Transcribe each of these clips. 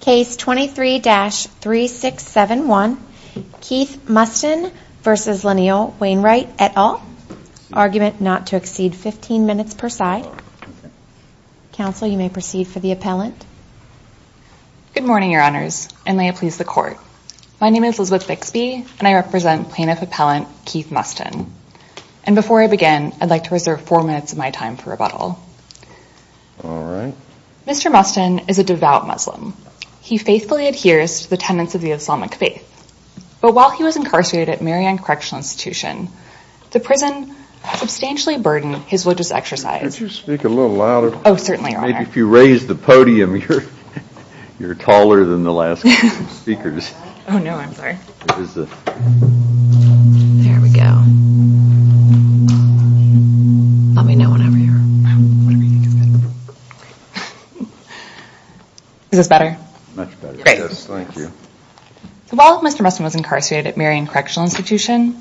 Case 23-3671 Keith Mustin v. Lyneal Wainwright et al. Argument not to exceed 15 minutes per side. Counsel, you may proceed for the appellant. Good morning, your honors, and may it please the court. My name is Elizabeth Bixby and I represent plaintiff appellant Keith Mustin. And before I begin, I'd like to reserve four minutes of my time for rebuttal. All right. Mr. Mustin is a devout Muslim. He faithfully adheres to the tenets of the Islamic faith. But while he was incarcerated at Marianne Correctional Institution, the prison substantially burdened his religious exercise. Could you speak a little louder? Oh, certainly, your honor. If you raise the podium, you're taller than the last speakers. Oh, no, I'm sorry. There we go. Is this better? Much better. Great. Thank you. While Mr. Mustin was incarcerated at Marianne Correctional Institution,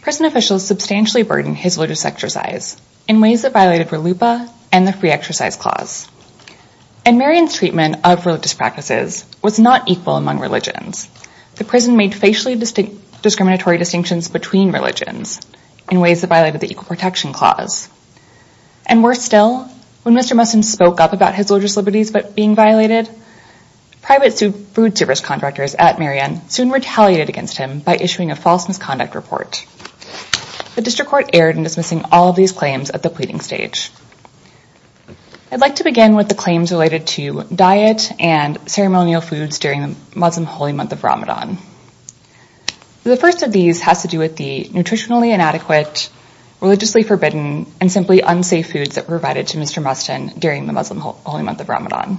prison officials substantially burdened his religious exercise in ways that violated RLUPA and the Free Exercise Clause. And Marianne's treatment of religious practices was not equal among religions. The prison made facially discriminatory distinctions between religions in ways that violated the Equal Protection Clause. And worse still, when Mr. Mustin spoke up about his religious liberties being violated, private food service contractors at Marianne soon retaliated against him by issuing a false misconduct report. The District Court erred in dismissing all of these claims at the pleading stage. I'd like to begin with the claims related to diet and ceremonial foods during the Muslim holy month of Ramadan. The first of these has to do with the nutritionally inadequate, religiously forbidden, and simply unsafe foods that were provided to Mr. Mustin during the Muslim holy month of Ramadan.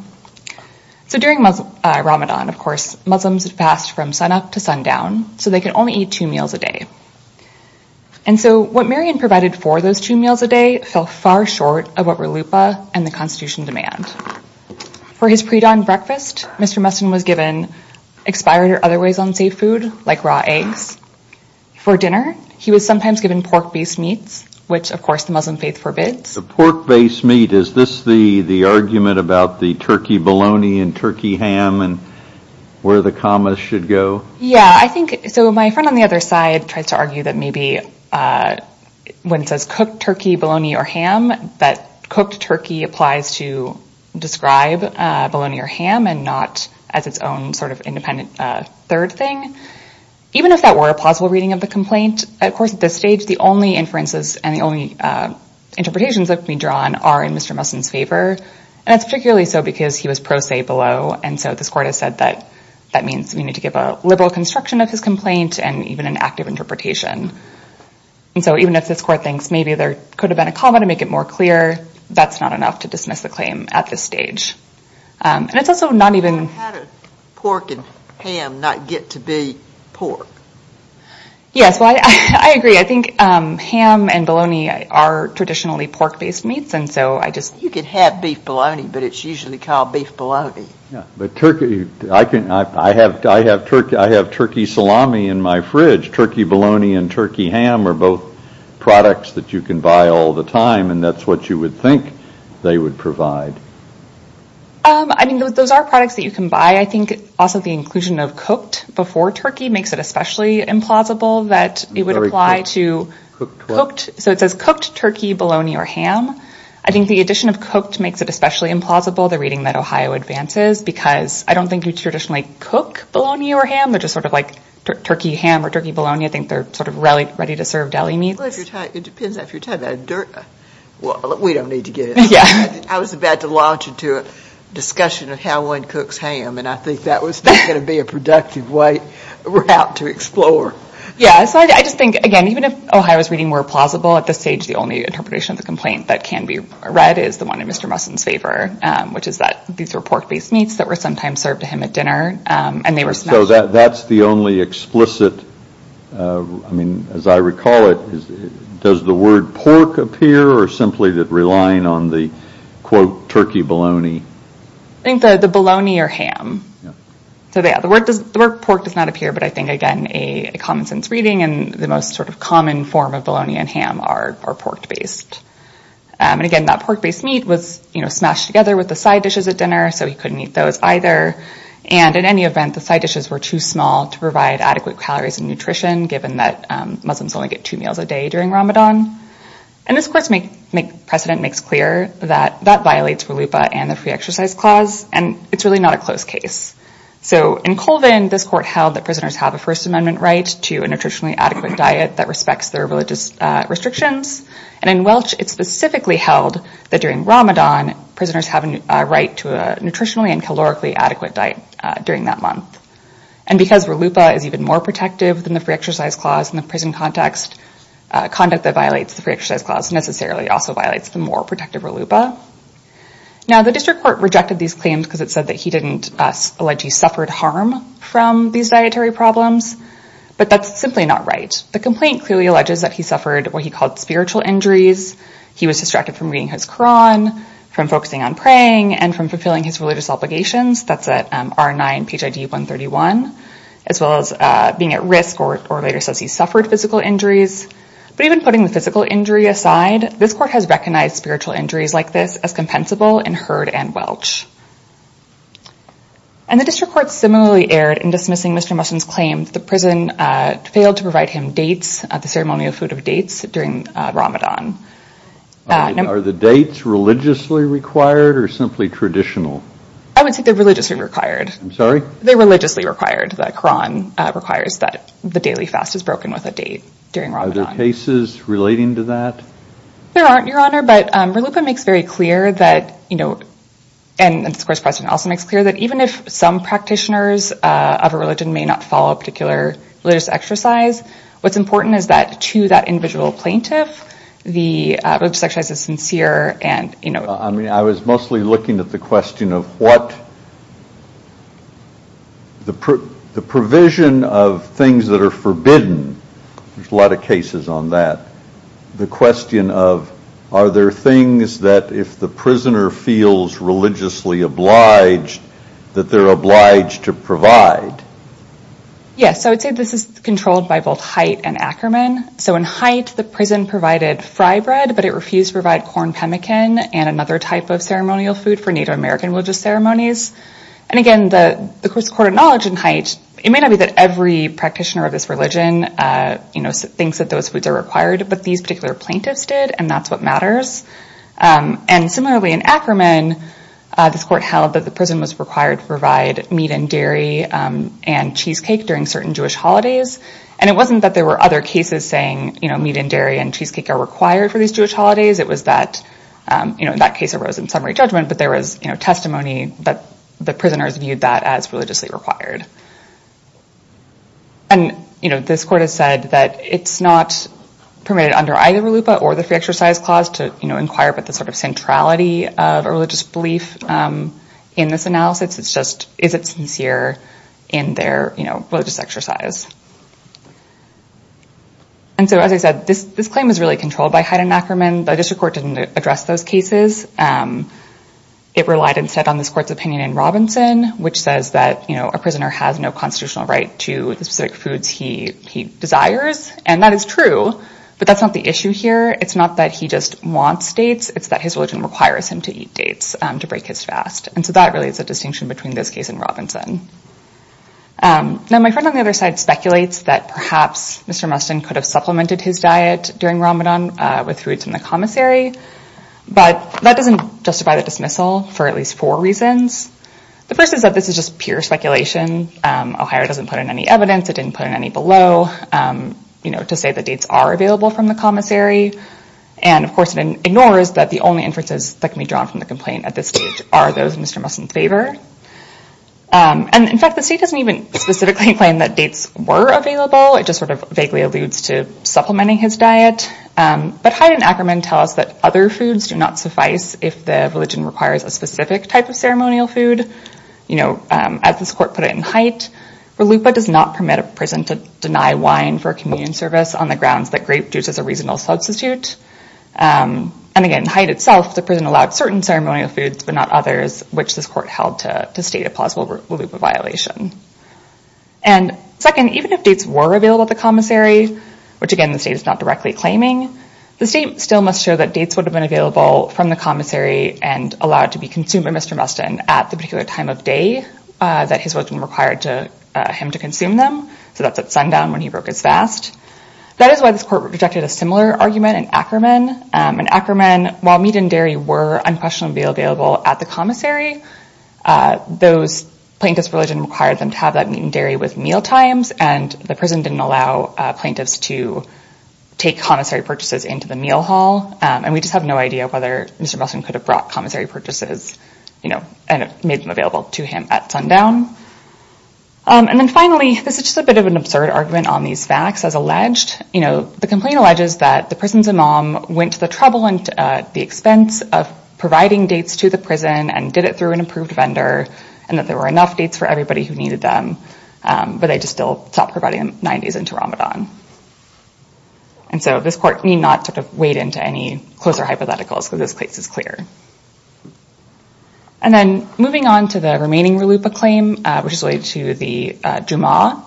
So during Ramadan, of course, Muslims would fast from sunup to sundown, so they could only eat two meals a day. And so what Marianne provided for those two meals a day fell far short of what RLUPA and the Constitution demand. For his pre-dawn breakfast, Mr. Mustin was given expired or otherwise unsafe food like raw eggs. For dinner, he was sometimes given pork-based meats, which, of course, the Muslim faith forbids. The pork-based meat, is this the argument about the turkey bologna and turkey ham and where the commas should go? Yeah, I think, so my friend on the other side tries to argue that maybe when it says cooked turkey, bologna, or ham, that cooked turkey applies to describe bologna or ham, and not as its own sort of independent third thing. Even if that were a plausible reading of the complaint, of course, at this stage, the only inferences and the only interpretations that can be drawn are in Mr. Mustin's favor. And that's particularly so because he was pro se below, and so this court has said that that means we need to give a liberal construction of his complaint and even an active interpretation. And so even if this court thinks maybe there could have been a comma to make it more clear, that's not enough to dismiss the claim at this stage. And it's also not even... How did pork and ham not get to be pork? Yes, well, I agree. I think ham and bologna are traditionally pork-based meats, and so I just... You could have beef bologna, but it's usually called beef bologna. Yeah, but turkey, I have turkey salami in my fridge. Turkey bologna and turkey ham are both products that you can buy all the time, and that's what you would think they would provide. I mean, those are products that you can buy. I think also the inclusion of cooked before turkey makes it especially implausible that it would apply to... So it says cooked turkey, bologna, or ham. I think the addition of cooked makes it especially implausible, the reading that Ohio advances, because I don't think you traditionally cook bologna or ham. They're just sort of like turkey ham or turkey bologna. I think they're sort of ready-to-serve deli meats. Well, it depends if you're talking about a dirt... Well, we don't need to get into that. I was about to launch into a discussion of how one cooks ham, and I think that was not going to be a productive route to explore. Yeah, so I just think, again, even if Ohio's reading were plausible, at this stage, the only interpretation of the complaint that can be read is the one in Mr. Musson's favor, which is that these were pork-based meats that were sometimes served to him at dinner, and they were smashed. So that's the only explicit... I mean, as I recall it, does the word pork appear, or simply that relying on the, quote, turkey bologna? I think the bologna or ham. So yeah, the word pork does not appear, but I think, again, a common sense reading, and the most sort of common form of bologna and ham are pork-based. And again, that pork-based meat was smashed together with the side dishes at dinner, so he couldn't eat those either. And in any event, the side dishes were too small to provide adequate calories and nutrition, given that Muslims only get two meals a day during Ramadan. And this court's precedent makes clear that that violates RLUIPA and the free exercise clause, and it's really not a close case. So in Colvin, this court held that prisoners have a First Amendment right to a nutritionally adequate diet that respects their religious restrictions. And in Welch, it specifically held that during during that month. And because RLUIPA is even more protective than the free exercise clause in the prison context, conduct that violates the free exercise clause necessarily also violates the more protective RLUIPA. Now, the district court rejected these claims because it said that he didn't allege he suffered harm from these dietary problems, but that's simply not right. The complaint clearly alleges that he suffered what he called spiritual injuries. He was distracted from his Quran, from focusing on praying, and from fulfilling his religious obligations. That's R9 PHID 131, as well as being at risk, or later says he suffered physical injuries. But even putting the physical injury aside, this court has recognized spiritual injuries like this as compensable in Hurd and Welch. And the district court similarly erred in dismissing Mr. Muslin's claim that the prison failed to provide him dates, the ceremonial food of dates during Ramadan. Are the dates religiously required or simply traditional? I would say they're religiously required. I'm sorry? They're religiously required. The Quran requires that the daily fast is broken with a date during Ramadan. Are there cases relating to that? There aren't, Your Honor, but RLUIPA makes very clear that, you know, and of course President Nelson makes clear that even if some practitioners of a religion may not follow a particular religious exercise, what's important is that to that individual plaintiff, the religious exercise is sincere and, you know. I mean, I was mostly looking at the question of what the provision of things that are forbidden, there's a lot of cases on that, the question of are there things that if the prisoner feels religiously obliged, that they're obliged to provide? Yes, so I would say this is controlled by both Haidt and Ackerman. So in Haidt, the prison provided fry bread, but it refused to provide corn pemmican and another type of ceremonial food for Native American religious ceremonies. And again, the Court of Knowledge in Haidt, it may not be that every practitioner of this religion, you know, thinks that those foods are required, but these particular plaintiffs did and that's what matters. And similarly in Ackerman, this court held that the prison was required to provide meat and dairy and cheesecake during certain Jewish holidays. And it wasn't that there were other cases saying, you know, meat and dairy and cheesecake are required for these Jewish holidays, it was that, you know, that case arose in summary judgment, but there was, you know, testimony that the prisoners viewed that as religiously required. And, you know, this court has said that it's not permitted under either RLUIPA or the free analysis. It's just, is it sincere in their, you know, religious exercise? And so, as I said, this claim is really controlled by Haidt and Ackerman. The district court didn't address those cases. It relied instead on this court's opinion in Robinson, which says that, you know, a prisoner has no constitutional right to the specific foods he desires. And that is true, but that's not the issue here. It's not that he just wants dates, it's that his religion requires him to eat dates to break his fast. And so that really is a distinction between this case and Robinson. Now, my friend on the other side speculates that perhaps Mr. Muston could have supplemented his diet during Ramadan with foods from the commissary, but that doesn't justify the dismissal for at least four reasons. The first is that this is just pure speculation. Ohio doesn't put in any evidence. It didn't put in any below, you know, to say that dates are available from the commissary. And of course it ignores that the only inferences that can be drawn from the complaint at this stage are those of Mr. Muston's favor. And in fact, the state doesn't even specifically claim that dates were available. It just sort of vaguely alludes to supplementing his diet. But Haidt and Ackerman tell us that other foods do not suffice if the religion requires a specific type of ceremonial food. You know, as this court put it in Haidt, Ralupa does not permit a deny wine for communion service on the grounds that grape juice is a reasonable substitute. And again, Haidt itself, the prison allowed certain ceremonial foods, but not others, which this court held to state a plausible Ralupa violation. And second, even if dates were available at the commissary, which again, the state is not directly claiming, the state still must show that dates would have been available from the commissary and allowed to be consumed by Mr. Muston at the sundown when he broke his fast. That is why this court rejected a similar argument in Ackerman. In Ackerman, while meat and dairy were unquestionably available at the commissary, those plaintiffs' religion required them to have that meat and dairy with mealtimes, and the prison didn't allow plaintiffs to take commissary purchases into the meal hall. And we just have no idea whether Mr. Muston could have brought commissary purchases, and made them available to him at sundown. And then finally, this is just a bit of an absurd argument on these facts as alleged. The complaint alleges that the prison's imam went to the trouble and the expense of providing dates to the prison, and did it through an approved vendor, and that there were enough dates for everybody who needed them, but they just still stopped providing them nine days into Ramadan. And so this court need not sort of wade into any closer hypotheticals, because this case is clear. And then moving on to the remaining Ralupa claim, which is related to the Jummah,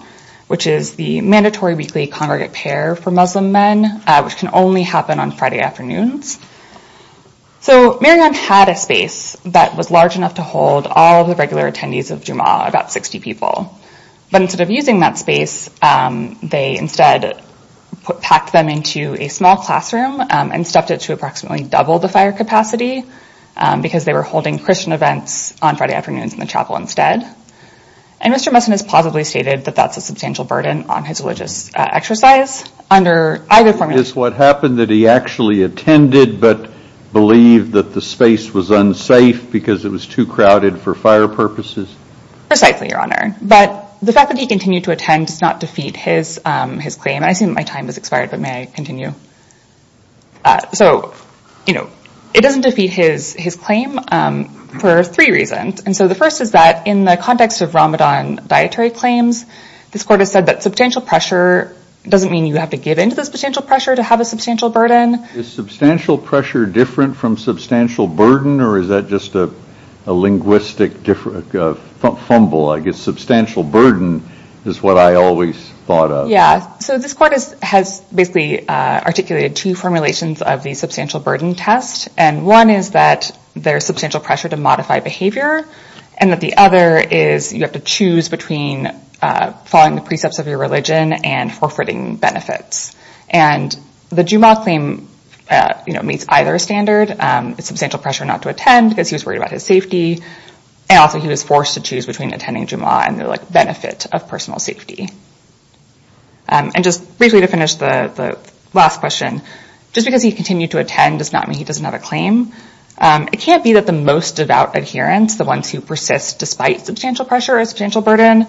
which is the mandatory weekly congregate pair for Muslim men, which can only happen on Friday afternoons. So Maryam had a space that was large enough to hold all of the regular attendees of Jummah, about 60 people. But instead of using that space, they instead packed them into a small classroom, and stuffed it to approximately double the fire capacity, because they were holding Christian events on Friday afternoons in the chapel instead. And Mr. Messon has positively stated that that's a substantial burden on his religious exercise under either formula. Is what happened that he actually attended, but believed that the space was unsafe because it was too crowded for fire purposes? Precisely, Your Honor. But the fact that he continued to attend does not defeat his claim. I assume my time has expired, but may I continue? So, you know, it doesn't defeat his claim for three reasons. And so the first is that in the context of Ramadan dietary claims, this court has said that substantial pressure doesn't mean you have to give into the substantial pressure to have a substantial burden. Is substantial pressure different from substantial burden, or is that just a linguistic fumble? I guess substantial burden is what I always thought of. Yeah. So this court has basically articulated two formulations of substantial burden test. And one is that there's substantial pressure to modify behavior, and that the other is you have to choose between following the precepts of your religion and forfeiting benefits. And the Jumu'ah claim meets either standard. It's substantial pressure not to attend because he was worried about his safety. And also he was forced to choose between attending Jumu'ah and the benefit of personal safety. And just briefly to finish the last question, just because he continued to attend does not mean he doesn't have a claim. It can't be that the most devout adherents, the ones who persist despite substantial pressure or substantial burden,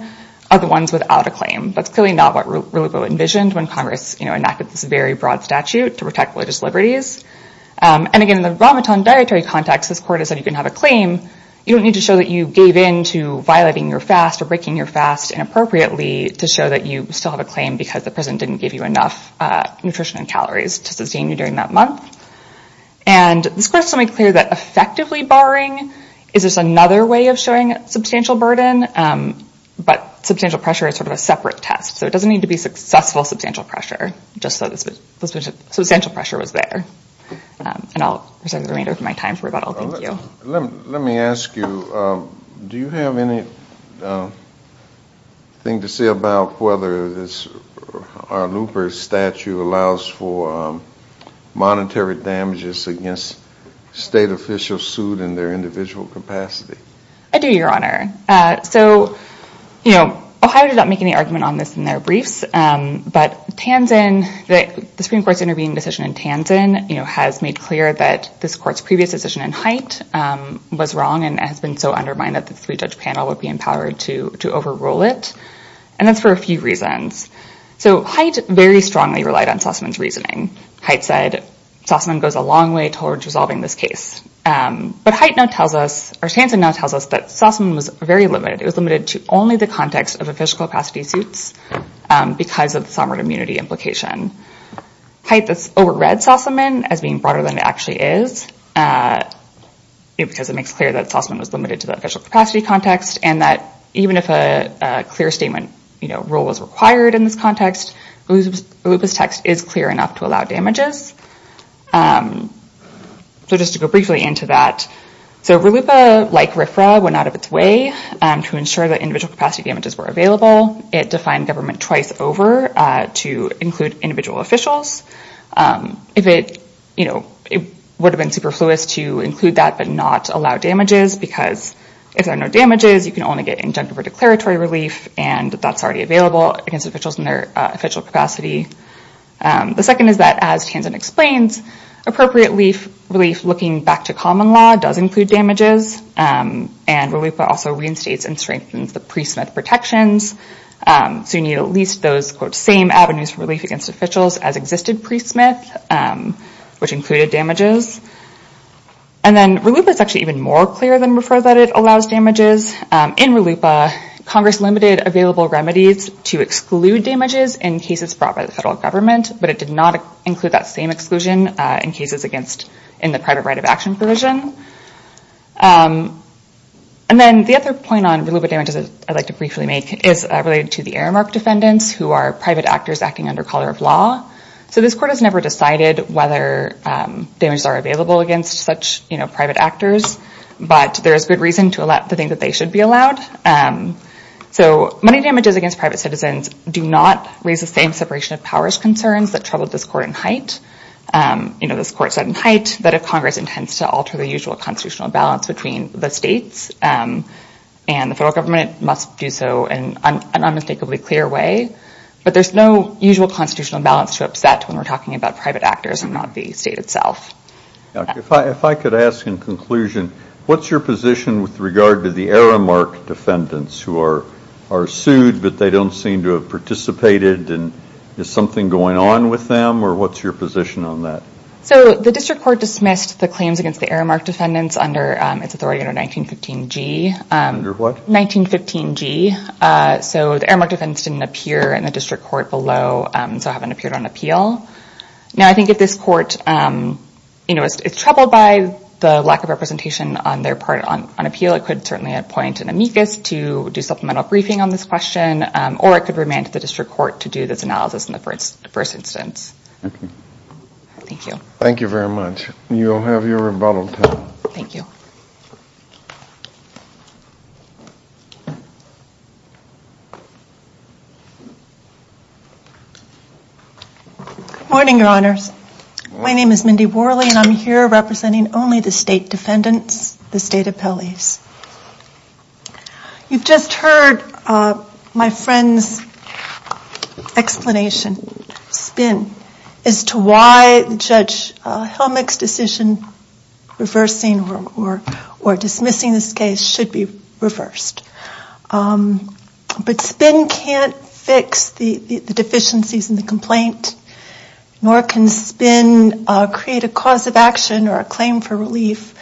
are the ones without a claim. That's clearly not what reluqo envisioned when Congress enacted this very broad statute to protect religious liberties. And again, in the Ramadan dietary context, this court has said you can have a claim. You don't need to show that you gave in to violating your fast or breaking your fast inappropriately to show that you still have a claim because the prison didn't give you enough nutrition and calories to sustain you during that month. And this court has made clear that effectively barring is just another way of showing substantial burden, but substantial pressure is sort of a separate test. So it doesn't need to be successful substantial pressure, just so that substantial pressure was there. And I'll reserve the remainder of my time for rebuttal. Thank you. Let me ask you, do you have anything to say about whether our Luper statue allows for monetary damages against state officials sued in their individual capacity? I do, Your Honor. So, you know, Ohio did not make any argument on this in their briefs, but the Supreme Court's intervening decision in Tansin has made clear that this court's previous decision in Haidt was wrong and has been so undermined that the three-judge panel would be empowered to overrule it. And that's for a few reasons. So Haidt very strongly relied on Sossaman's reasoning. Haidt said Sossaman goes a long way towards resolving this case. But Haidt now tells us, or Tansin now tells us that Sossaman was very limited. It was limited to only the context of official capacity suits because of the sovereign immunity implication. Haidt has overread Sossaman as being broader than it actually is because it makes clear that Sossaman was limited to the official capacity context and that even if a clear statement rule was required in this context, Lupa's text is clear enough to allow damages. So just to go briefly into that. So RLUPA, like RFRA, went out of its way to ensure that individual capacity damages were available. It defined government twice over to include individual officials. It would have been super fluid to include that but not allow damages because if there are no damages, you can only get injunctive or declaratory relief and that's already available against officials in their official capacity. The second is that as Tansin explains, appropriate relief looking back to common law does include damages. And RLUPA also reinstates and strengthens the priesthood protections. So you need at least those same avenues for relief against officials as existed pre-Smith which included damages. And then RLUPA is actually even more clear than RFRA that it allows damages. In RLUPA, Congress limited available remedies to exclude damages in cases brought by the federal government but it did not include that same exclusion in cases against in the private right of action provision. And then the other point on RLUPA damages I'd like to briefly make is related to the Aramark defendants who are private actors acting under color of law. So this court has never decided whether damages are available against such private actors but there is good reason to think that they should be allowed. So money damages against private citizens do not raise the same separation of powers concerns that troubled this court in height. This court said in height that if Congress intends to alter the usual constitutional balance between the states and the federal government must do so in an unmistakably clear way. But there's no usual constitutional balance to upset when we're talking about private actors and not the state itself. If I could ask in conclusion what's your position with regard to the Aramark defendants who are sued but they don't seem to have participated and is something going on with them or what's your position on that? So the district court dismissed the claims against the Aramark defendants under its authority under 1915g. Under what? 1915g. So the Aramark defendants didn't appear in the district court below so haven't appeared on appeal. Now I think if this court is troubled by the lack of representation on their part on appeal it could certainly appoint an amicus to do supplemental briefing on this question or it could remand the district court to do this analysis in the first instance. Thank you. Thank you very much. You'll have your rebuttal time. Thank you. Good morning, your honors. My name is Mindy Worley and I'm here representing only the state defendants, the state appellees. You've just heard my friend's explanation, SPIN, as to why Judge Helmick's decision reversing or dismissing this case should be reversed. But SPIN can't fix the deficiencies in the complaint nor can SPIN create a cause of action or a claim for relief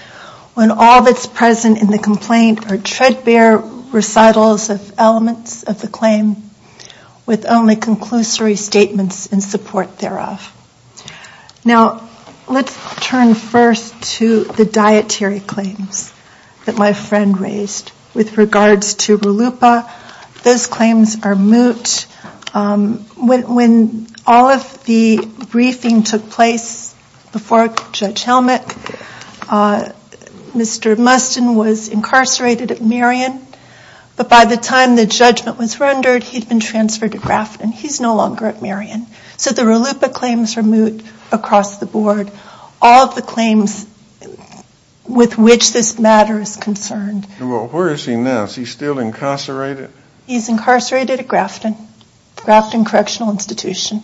when all that's present in the complaint are treadbare recitals of elements of the claim with only conclusory statements in support thereof. Now let's turn first to the dietary claims that my friend raised with regards to RLUIPA. Those claims are moot. When all of the briefing took place before Judge Helmick, Mr. Mustin was incarcerated at Marion, but by the time the judgment was rendered he'd been transferred to Grafton. He's no longer at Marion. So the RLUIPA claims are moot across the all of the claims with which this matter is concerned. Well, where is he now? Is he still incarcerated? He's incarcerated at Grafton Correctional Institution.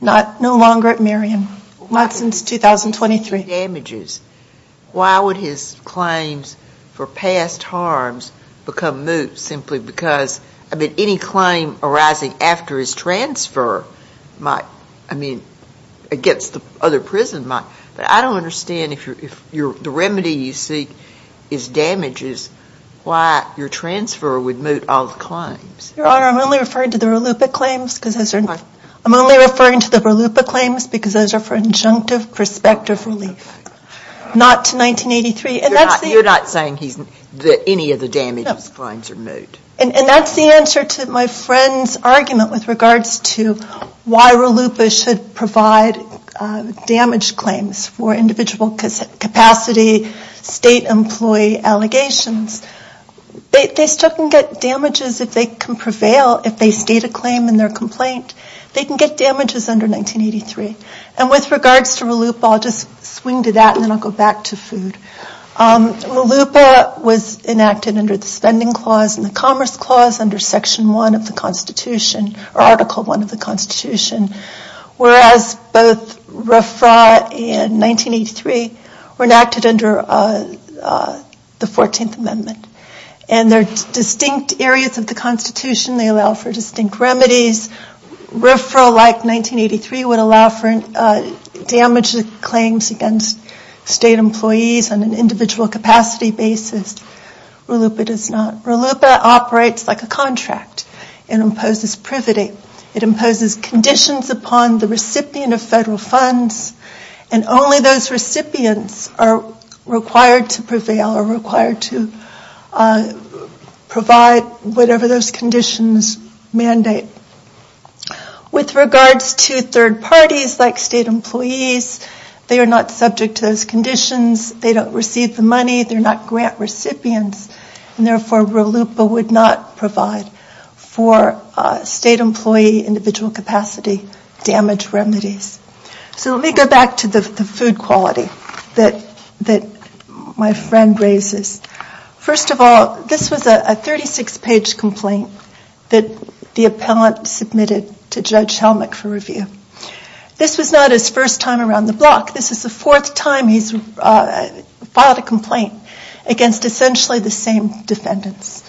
No longer at Marion. Not since 2023. Why would his claims for past harms become moot simply because any claim arising after his transfer against the other prison might? But I don't understand if the remedy you seek is damages, why your transfer would moot all the claims? Your Honor, I'm only referring to the RLUIPA claims because those are for injunctive prospective relief. Not to 1983. You're not saying any of the damages claims are moot? And that's the answer to my friend's argument with regards to why RLUIPA should provide damaged claims for individual capacity, state employee allegations. They still can get damages if they can prevail, if they state a claim in their complaint. They can get damages under 1983. And with regards to RLUIPA, I'll just swing to that and then I'll go back to food. RLUIPA was enacted under the Spending Clause and the Commerce Clause under Section 1 of the Constitution, or Article 1 of the Constitution. Whereas both RFRA and 1983 were enacted under the 14th Amendment. And they're distinct areas of the Constitution. They allow for distinct individual capacity basis. RLUIPA does not. RLUIPA operates like a contract. It imposes privity. It imposes conditions upon the recipient of federal funds. And only those recipients are required to prevail or required to provide whatever those conditions mandate. With regards to third parties like state employees, they are not subject to those conditions. They don't receive the money. They're not grant recipients. And therefore, RLUIPA would not provide for state employee individual capacity damage remedies. So let me go back to the food quality that my friend raises. First of all, this was a 36-page complaint that the appellant submitted to Judge Helmick for review. This was not his first time on the block. This is the fourth time he's filed a complaint against essentially the same defendants.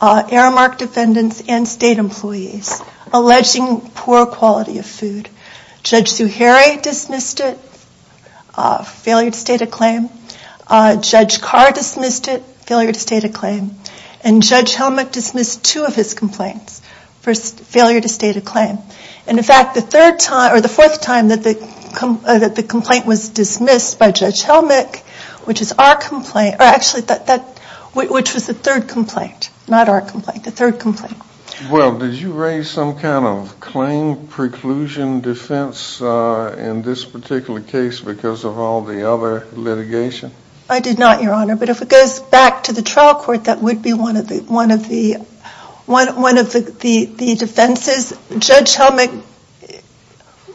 Aramark defendants and state employees alleging poor quality of food. Judge Zuhairi dismissed it, failure to state a claim. Judge Carr dismissed it, failure to state a claim. And Judge Helmick dismissed two of his complaints for failure to state a claim. And in fact, the third time, the fourth time that the complaint was dismissed by Judge Helmick, which is our complaint, or actually, which was the third complaint, not our complaint, the third complaint. Well, did you raise some kind of claim preclusion defense in this particular case because of all the other litigation? I did not, Your Honor. But if it goes back to the trial court, that would be one of the defenses. Judge Helmick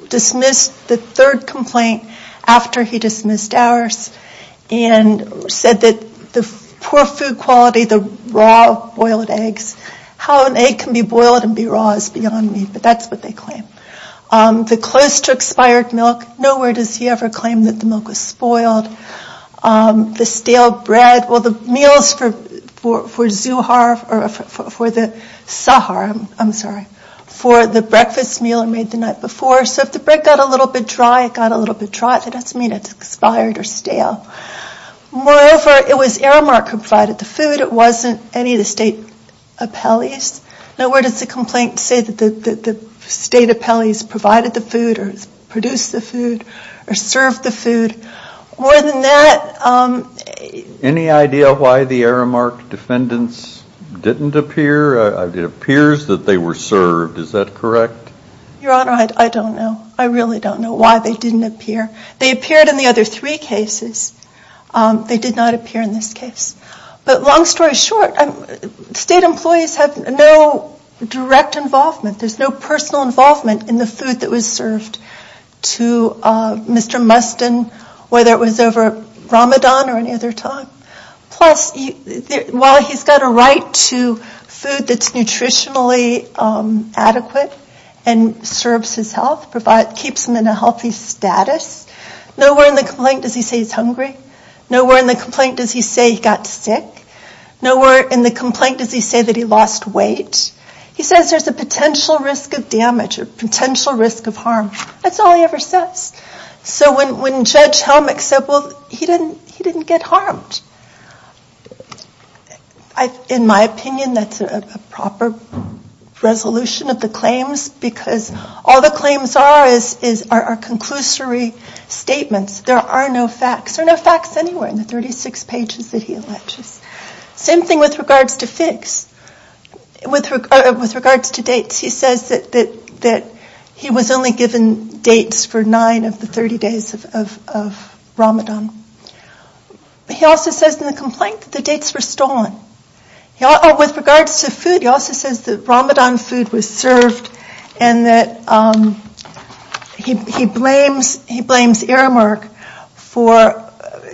dismissed the third complaint after he dismissed ours and said that the poor food quality, the raw boiled eggs, how an egg can be boiled and be raw is beyond me, but that's what they claim. The close to expired milk, nowhere does he ever claim that the milk was spoiled. The stale bread, well, the meals for Zuhairi, I'm sorry, for the breakfast meal are made the night before. So if the bread got a little bit dry, it got a little bit dry, that doesn't mean it's expired or stale. Moreover, it was Aramark who provided the food. It wasn't any of the state appellees. Now, where does the complaint say that the state appellees provided the food or produced the food or served the food? More than that... Any idea why the Aramark defendants didn't appear? It appears that they were served. Is that correct? Your Honor, I don't know. I really don't know why they didn't appear. They appeared in the other three cases. They did not appear in this case. But long story short, state employees have no direct involvement. There's no personal involvement in the food that was served to Mr. Mustin, whether it was over Ramadan or any other time. Plus, while he's got a right to food that's nutritionally adequate and serves his health, keeps him in a healthy status, nowhere in the complaint does he say he's hungry. Nowhere in the complaint does he say he got sick. Nowhere in the complaint does he say that he lost weight. He says there's a potential risk of damage or potential risk of harm. That's all he ever says. So when Judge Helmick said, well, he didn't get harmed, in my opinion, that's a proper resolution of the claims because all the claims are are conclusory statements. There are no facts. There are no facts anywhere in the 36 pages that he alleges. Same thing with regards to dates. He says that he was only given dates for nine of the 30 days of Ramadan. He also says in the complaint that the dates were stolen. With regards to food, he also says that Ramadan food was served and that he blames Aramark for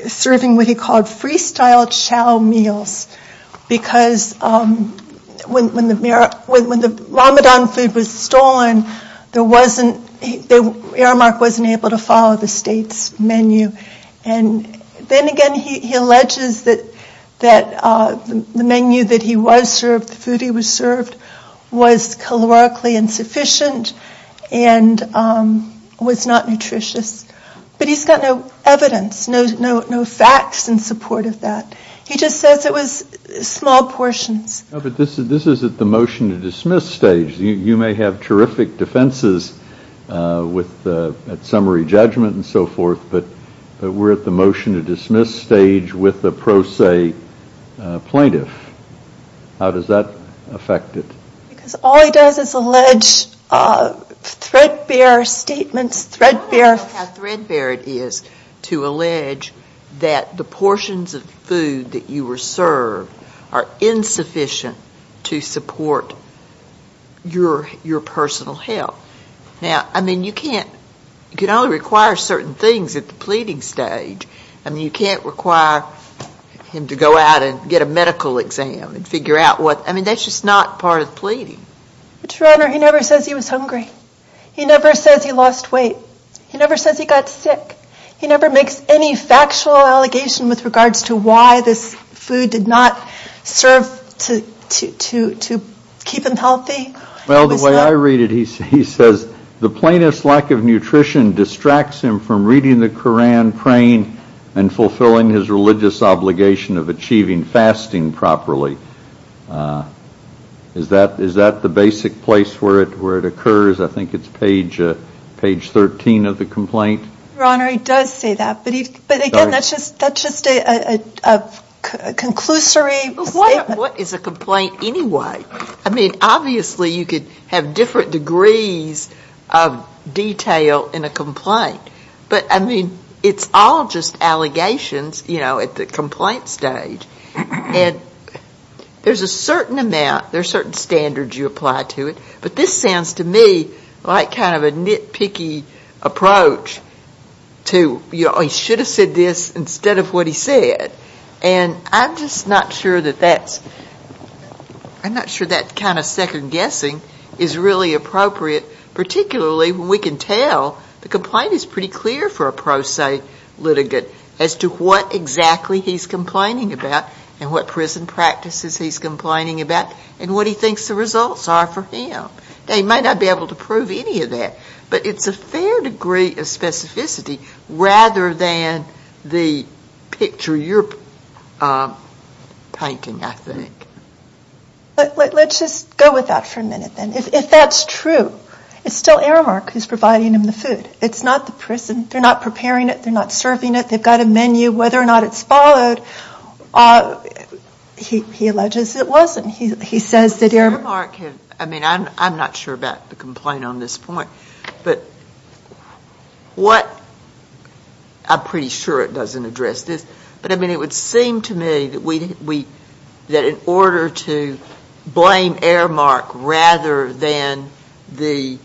serving what he called freestyle chow meals because when the Ramadan food was stolen, Aramark wasn't able to follow the state's menu. And then again, he alleges that the menu that he was served, the food he was served, was calorically insufficient and was not nutritious. But he's got no evidence, no facts in support of that. He just says it was small portions. But this is at the motion to dismiss stage. You may have terrific defenses at summary judgment and so forth, but we're at the motion to dismiss stage with a pro se plaintiff. How does that affect it? All he does is allege threadbare statements. I don't know how threadbare it is to allege that the portions of food that you were served are insufficient to support your personal health. You can only require certain things at the pleading stage. You can't require him to go out and get a medical exam. That's just not part of pleading. He never says he was hungry. He never says he lost weight. He never says he got sick. He never makes any factual allegation with regards to why this food did not serve to keep him healthy. The way I read it, he says the plaintiff's lack of nutrition distracts him from reading the Koran, praying, and fulfilling his religious obligation of achieving fasting properly. Is that the basic place where it occurs? I think it's page 13 of the complaint. Your Honor, he does say that. But again, that's just a conclusory statement. What is a complaint anyway? Obviously you could have different degrees of detail in a complaint. But it's all just allegations at the complaint stage. There's a certain amount, there are certain standards you apply to it. But this sounds to me like kind of a nitpicky approach to he should have said this instead of what he said. I'm just not sure that kind of second guessing is really appropriate, particularly when we can tell the complaint is pretty clear for a pro se litigant as to what exactly he's complaining about and what prison practices he's complaining about and what he thinks the results are for him. He may not be able to prove any of that. But it's a fair degree of specificity rather than the picture you're painting, I think. Let's just go with that for a minute then. If that's true, it's still Aramark who's providing him the food. It's not the prison. They're not preparing it. They're not serving it. They've got a menu. Whether or not it's followed, he alleges it wasn't. I'm not sure about the complaint on this point. I'm pretty sure it doesn't address this. But it would seem to me that in order to blame Aramark rather than the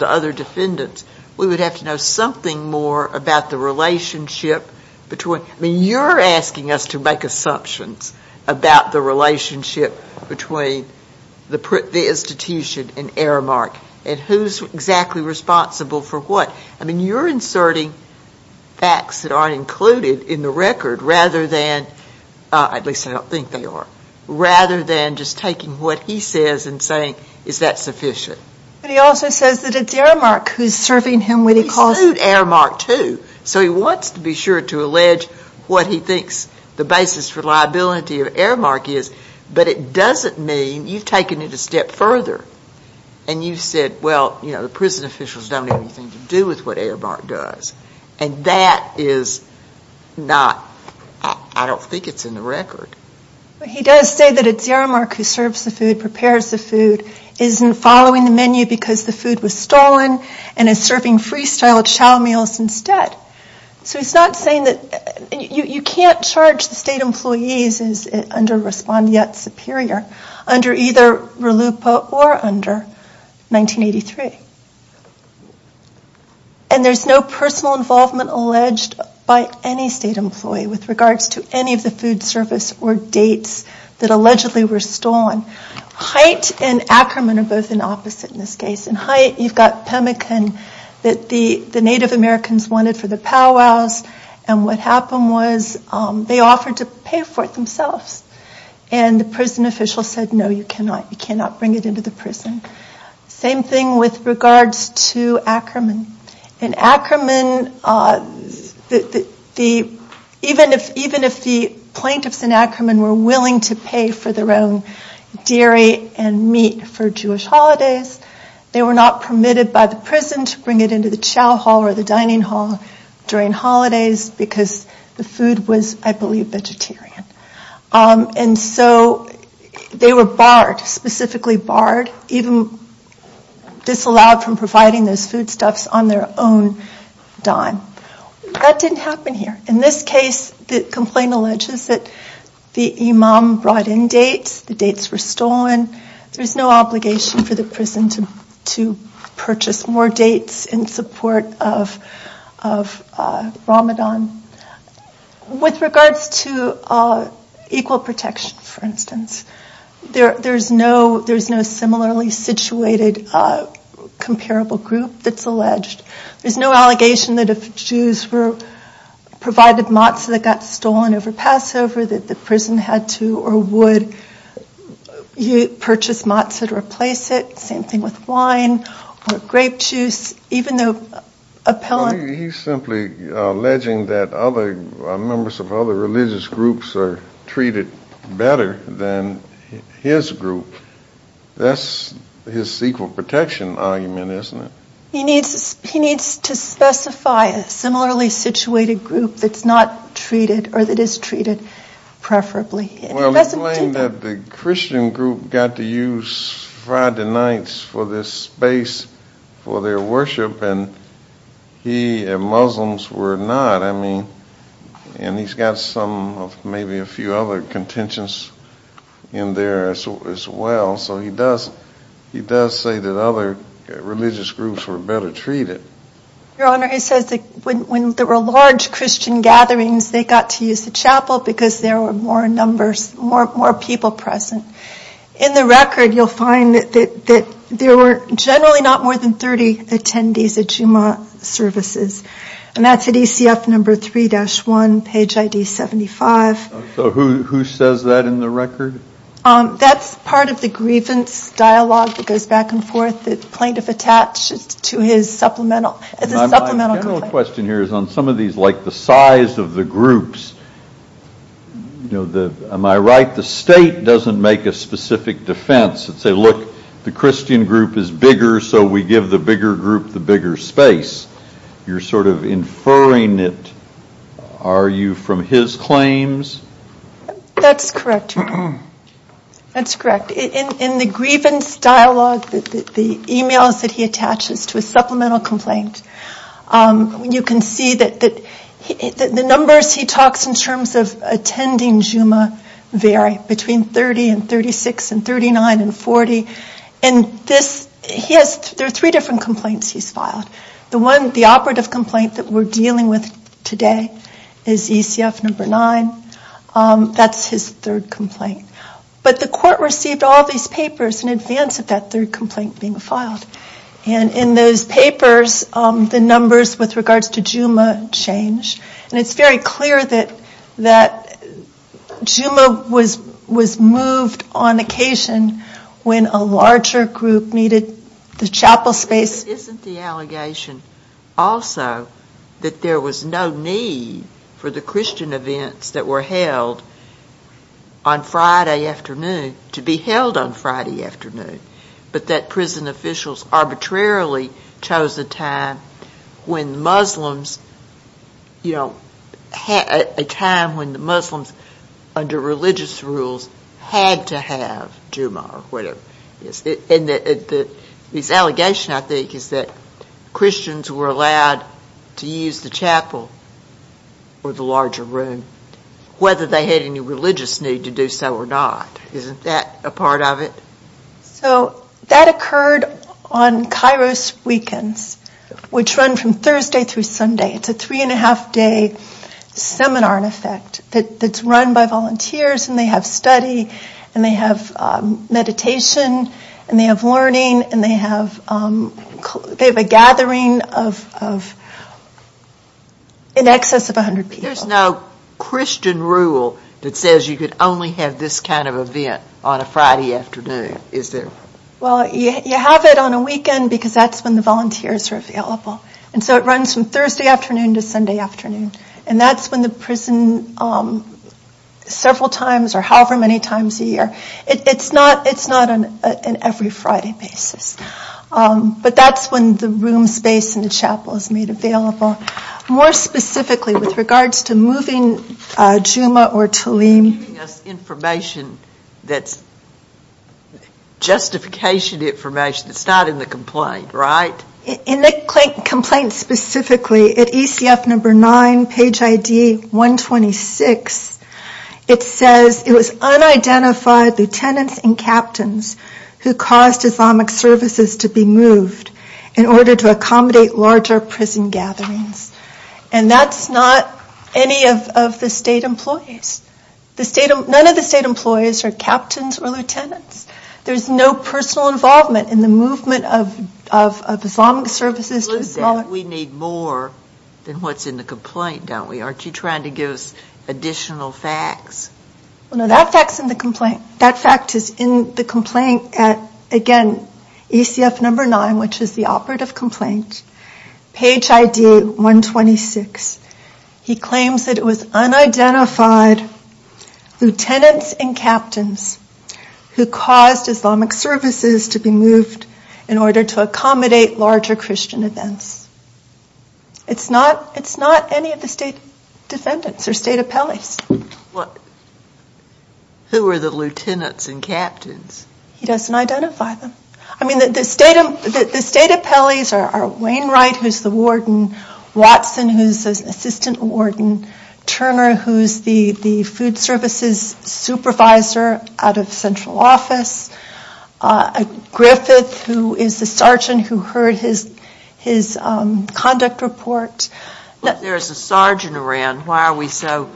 other defendants, we would have to know something more about the relationship. You're asking us to make assumptions about the relationship between the institution and Aramark and who's exactly responsible for what. You're inserting facts that aren't included in the record rather than, at least I don't think they are, rather than just taking what he says and saying, is that sufficient? But he also says that it's Aramark who's serving him when he calls. So he wants to be sure to allege what he thinks the basis for liability of Aramark is. But it doesn't mean you've taken it a step further and you've said, well, you know, the prison officials don't have anything to do with what Aramark does. And that is not, I don't think it's in the record. He does say that it's Aramark who serves the food, prepares the food, isn't following the menu because the food was stolen, and is serving freestyle chow meals instead. So he's not saying that, you can't charge the state employees under Respond Yet Superior under either RLUIPA or under 1983. And there's no personal involvement alleged by any state employee with regards to any of the food service or dates that allegedly were stolen. Hite and Ackerman are both in opposite in this case. In Hite, you've got pemmican that the Native Americans wanted for the powwows. And what happened was they offered to pay for it themselves. And the prison official said, no, you cannot, you cannot bring it into the prison. Same thing with regards to Ackerman. And Ackerman, even if the plaintiffs in Ackerman were willing to pay for their own dairy and meat for Jewish holidays, they were not permitted by the prison to bring it into the chow hall or the dining hall during holidays because the food was, I believe, vegetarian. And so they were barred, specifically barred, even disallowed from providing those foodstuffs on their own dime. That didn't happen here. In this case, the complaint alleges that the imam brought in dates, the dates were stolen. There was no obligation for the prison to purchase more dates in support of Ramadan. With regards to equal protection, for instance, there's no similarly situated comparable group that's alleged. There's no allegation that Jews were provided matzah that got stolen over Passover that the prison had to or would purchase matzah to replace it. Same thing with wine or grape juice, even though appellant. He's simply alleging that other members of other religious groups are treated better than his group. That's his equal protection argument, isn't it? He needs to specify a similarly situated group that's not treated or that is treated preferably. Well, he's saying that the Christian group got to use Friday nights for this space for their worship and he and Muslims were not. He's got maybe a few other contentions in there as well. He does say that other religious groups were better treated. Your Honor, he says that when there were large Christian gatherings, they got to use the chapel because there were more people present. In the record, you'll find that there were generally not more than 30 attendees at Jummah services. That's at ECF number 3-1, page ID 75. Who says that in the record? That's part of the grievance dialogue that goes back and forth. The plaintiff attaches to his supplemental complaint. My general question here is on some of these, like the size of the groups, am I right? The state doesn't make a defense and say, look, the Christian group is bigger so we give the bigger group the bigger space. You're sort of inferring it. Are you from his claims? That's correct. In the grievance dialogue, the emails that he attaches to his supplemental complaint, you can see that the numbers he talks in terms of attending Jummah vary between 30 and 36 and 39 and 40. There are three different complaints he's filed. The operative complaint that we're dealing with today is ECF number 9. That's his third complaint. But the court received all these papers in advance of that third complaint being filed. In those papers, the numbers with regards to Jummah change. It's very clear that Jummah was moved on occasion when a larger group needed the chapel space. Isn't the allegation also that there was no need for the Christian events that were held on Friday afternoon to be held on Friday afternoon, but that prison officials arbitrarily chose a time when Muslims under religious rules had to have Jummah? His allegation, I think, is that Christians were allowed to use the chapel or the larger room whether they had any religious need to do so or not. Isn't that a part of it? So that occurred on Kairos Weekends, which run from Thursday through Sunday. It's a three and a half day seminar in effect that's run by volunteers and they have study and they have meditation and they have learning and they have a gathering of in excess of 100 people. There's no Christian rule that says you could only have this kind of event on a Friday afternoon, is there? Well, you have it on a weekend because that's when the volunteers are available. And so it runs from Thursday afternoon to Sunday afternoon. And that's when the prison, several times or however many times a year, it's not an every Friday basis. But that's the room space in the chapel is made available. More specifically with regards to moving Jummah or Talim. Giving us information that's justification information that's not in the complaint, right? In the complaint specifically at ECF number nine, page ID 126, it says it was unidentified lieutenants and captains who caused Islamic services to be moved in order to accommodate larger prison gatherings. And that's not any of the state employees. None of the state employees are captains or lieutenants. There's no personal involvement in the movement of Islamic services. We need more than what's in the complaint, don't we? Aren't you trying to give us additional facts? No, that fact is in the complaint. Again, ECF number nine, which is the operative complaint, page ID 126. He claims that it was unidentified lieutenants and captains who caused Islamic services to be moved in order to accommodate larger Christian events. It's not any of the state defendants or state appellees. Who are the lieutenants and captains? He doesn't identify them. I mean, the state appellees are Wayne Wright, who's the warden, Watson, who's the assistant warden, Turner, who's the food services supervisor out of central conduct report. There's a sergeant around. Why are we so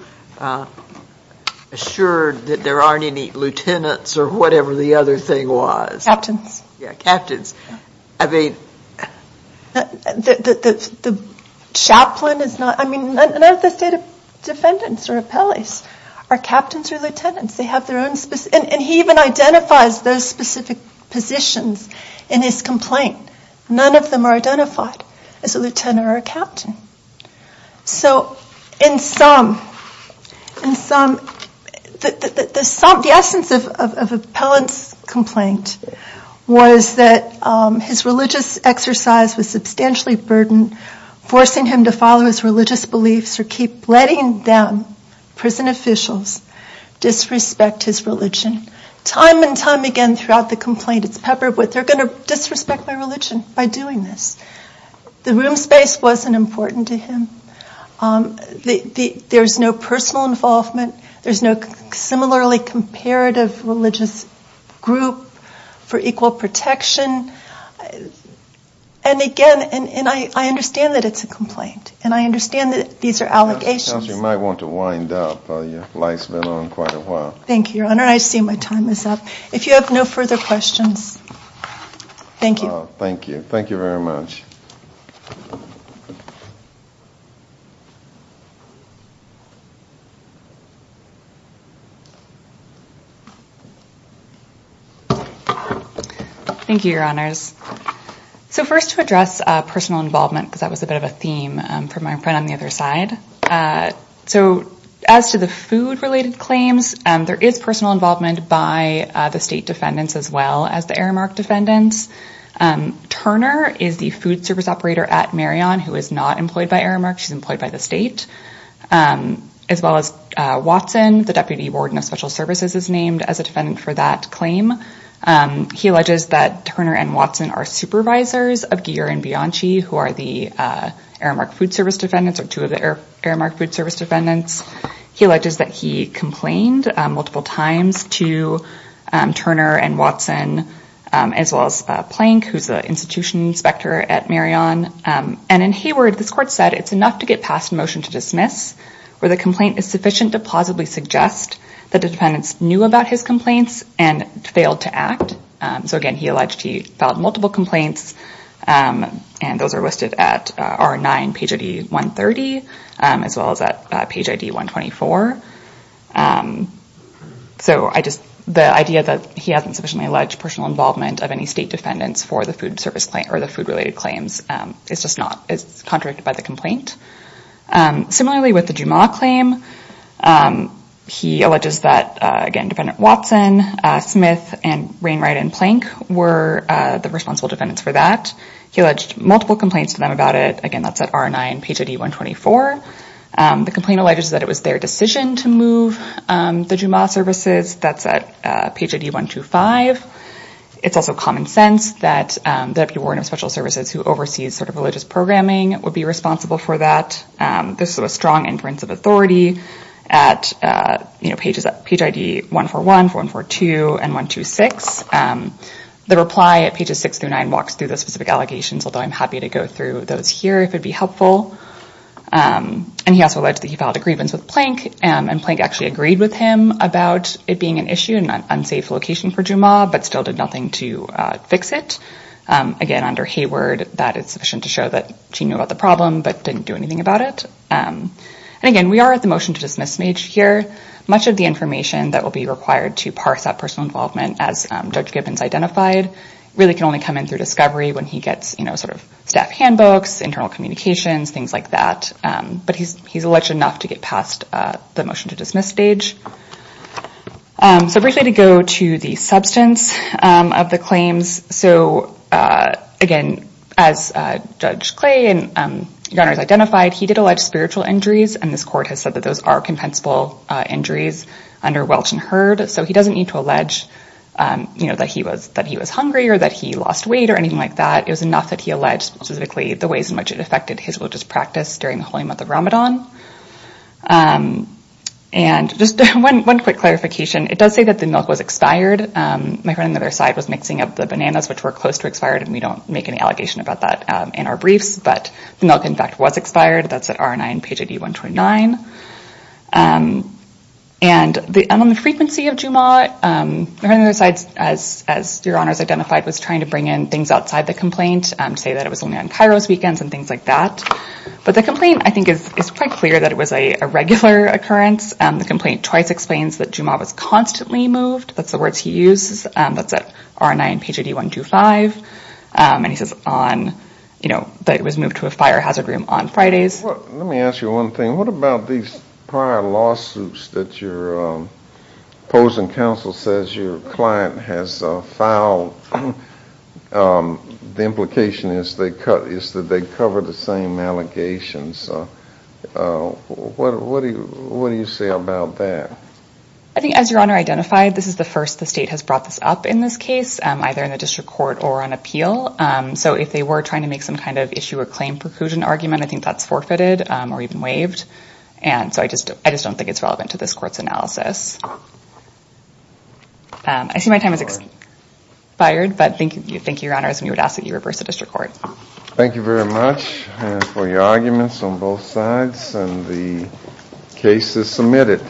assured that there aren't any lieutenants or whatever the other thing was? Captains. Yeah, captains. I mean, the chaplain is not, I mean, none of the state defendants or appellees are captains or lieutenants. They have their own, and he even identifies those specific positions in his complaint. None of them are identified as a lieutenant or a captain. So in sum, the essence of Appellant's complaint was that his religious exercise was substantially burdened, forcing him to follow his religious beliefs or keep letting them, prison officials, disrespect his religion. Time and time again throughout the complaint, it's peppered with, they're going to disrespect my religion by doing this. The room space wasn't important to him. There's no personal involvement. There's no similarly comparative religious group for equal protection. And again, and I understand that it's a complaint, and I understand that these are allegations. You might want to wind up. Your light's been on quite a while. Thank you, Your Honor. I see my time is up. If you have no further questions. Thank you. Thank you. Thank you very much. Thank you, Your Honors. So first to address personal involvement, because that was a bit of a theme for my friend on the other side. So as to the food related claims, there is personal involvement by the state defendants as well as the Aramark defendants. Turner is the food service operator at Marion who is not employed by Aramark. She's employed by the state. As well as Watson, the deputy warden of special services is named as a defendant for that claim. He alleges that Turner and Watson are supervisors of Geer and Bianchi, who are the Aramark food service defendants or two of the Aramark food service defendants. He alleges that he complained multiple times to Turner and Watson as well as Plank, who's the institution inspector at Marion. And in Hayward, this court said it's enough to get past a motion to dismiss where the complaint is sufficient to plausibly suggest that the defendants knew about his complaints and failed to act. So again, he alleged he filed multiple complaints and those are listed at R9, page ID 130, as well as at page ID 124. So the idea that he hasn't sufficiently alleged personal involvement of any state defendants for the food service claim or the food related claims, it's just not, it's contradicted by the complaint. Similarly with the Jumaah claim, he alleges that again, defendant Watson, Smith and Rainwright and Plank were the responsible defendants for that. He alleged multiple complaints to them about it. Again, that's at R9, page ID 124. The complaint alleges that it was their decision to move the Jumaah services. That's at page ID 125. It's also common sense that the Warrant of Special Services who oversees sort of religious programming would be responsible for that. This is a strong inference of authority at page ID 141, 142 and 126. The reply at pages six through nine walks through the specific allegations, although I'm happy to go through those here if it'd be helpful. And he also alleged that he filed a grievance with Plank and Plank actually agreed with him about it being an issue and an unsafe location for Jumaah, but still did nothing to fix it. Again, under Hayward, that is sufficient to show that she knew about the problem, but didn't do anything about it. And again, we are at the motion to dismiss stage here. Much of the information that will be required to parse that personal involvement as Judge Gibbons identified really can only come in through discovery when he gets staff handbooks, internal communications, things like that. But he's alleged enough to get past the motion to dismiss stage. So briefly to go to the substance of the claims. So again, as Judge Clay and Gunners identified, he did allege spiritual injuries and this court has said that those are compensable injuries under Welch and Hurd. So he doesn't need to allege that he was hungry or that he lost weight or anything like that. It was enough that he alleged specifically the ways in which it affected his religious practice during the holy month of Ramadan. And just one quick clarification. It does say that the milk was expired. My friend on the other side was mixing up the bananas, which were close to expired, and we don't make any allegation about that in our briefs, but the milk in fact was expired. That's at RNI and page ID 129. And on the frequency of Jumaah, my friend on the other side, as your honors identified, was trying to bring in things outside the complaint, say that it was only on Cairo's weekends and things like that. But the complaint, I think, is quite clear that it was a regular occurrence. The complaint twice explains that Jumaah was constantly moved. That's the words he uses. That's at RNI and page ID 125. And he says that it was moved to a fire hazard room on Fridays. Let me ask you one thing. What about these prior lawsuits that your opposing counsel says your client has filed? The implication is that they cover the same allegations. What do you say about that? I think as your honor identified, this is the first the state has brought this up in this case, either in the district court or on appeal. So if they were trying to make some kind of issue or claim preclusion argument, I think that's forfeited or even waived. And so I just don't think it's relevant to this court's analysis. I see my time has expired, but thank you. Thank you, your honors. And we would ask that you reverse the district court. Thank you very much for your arguments on both sides and the cases submitted.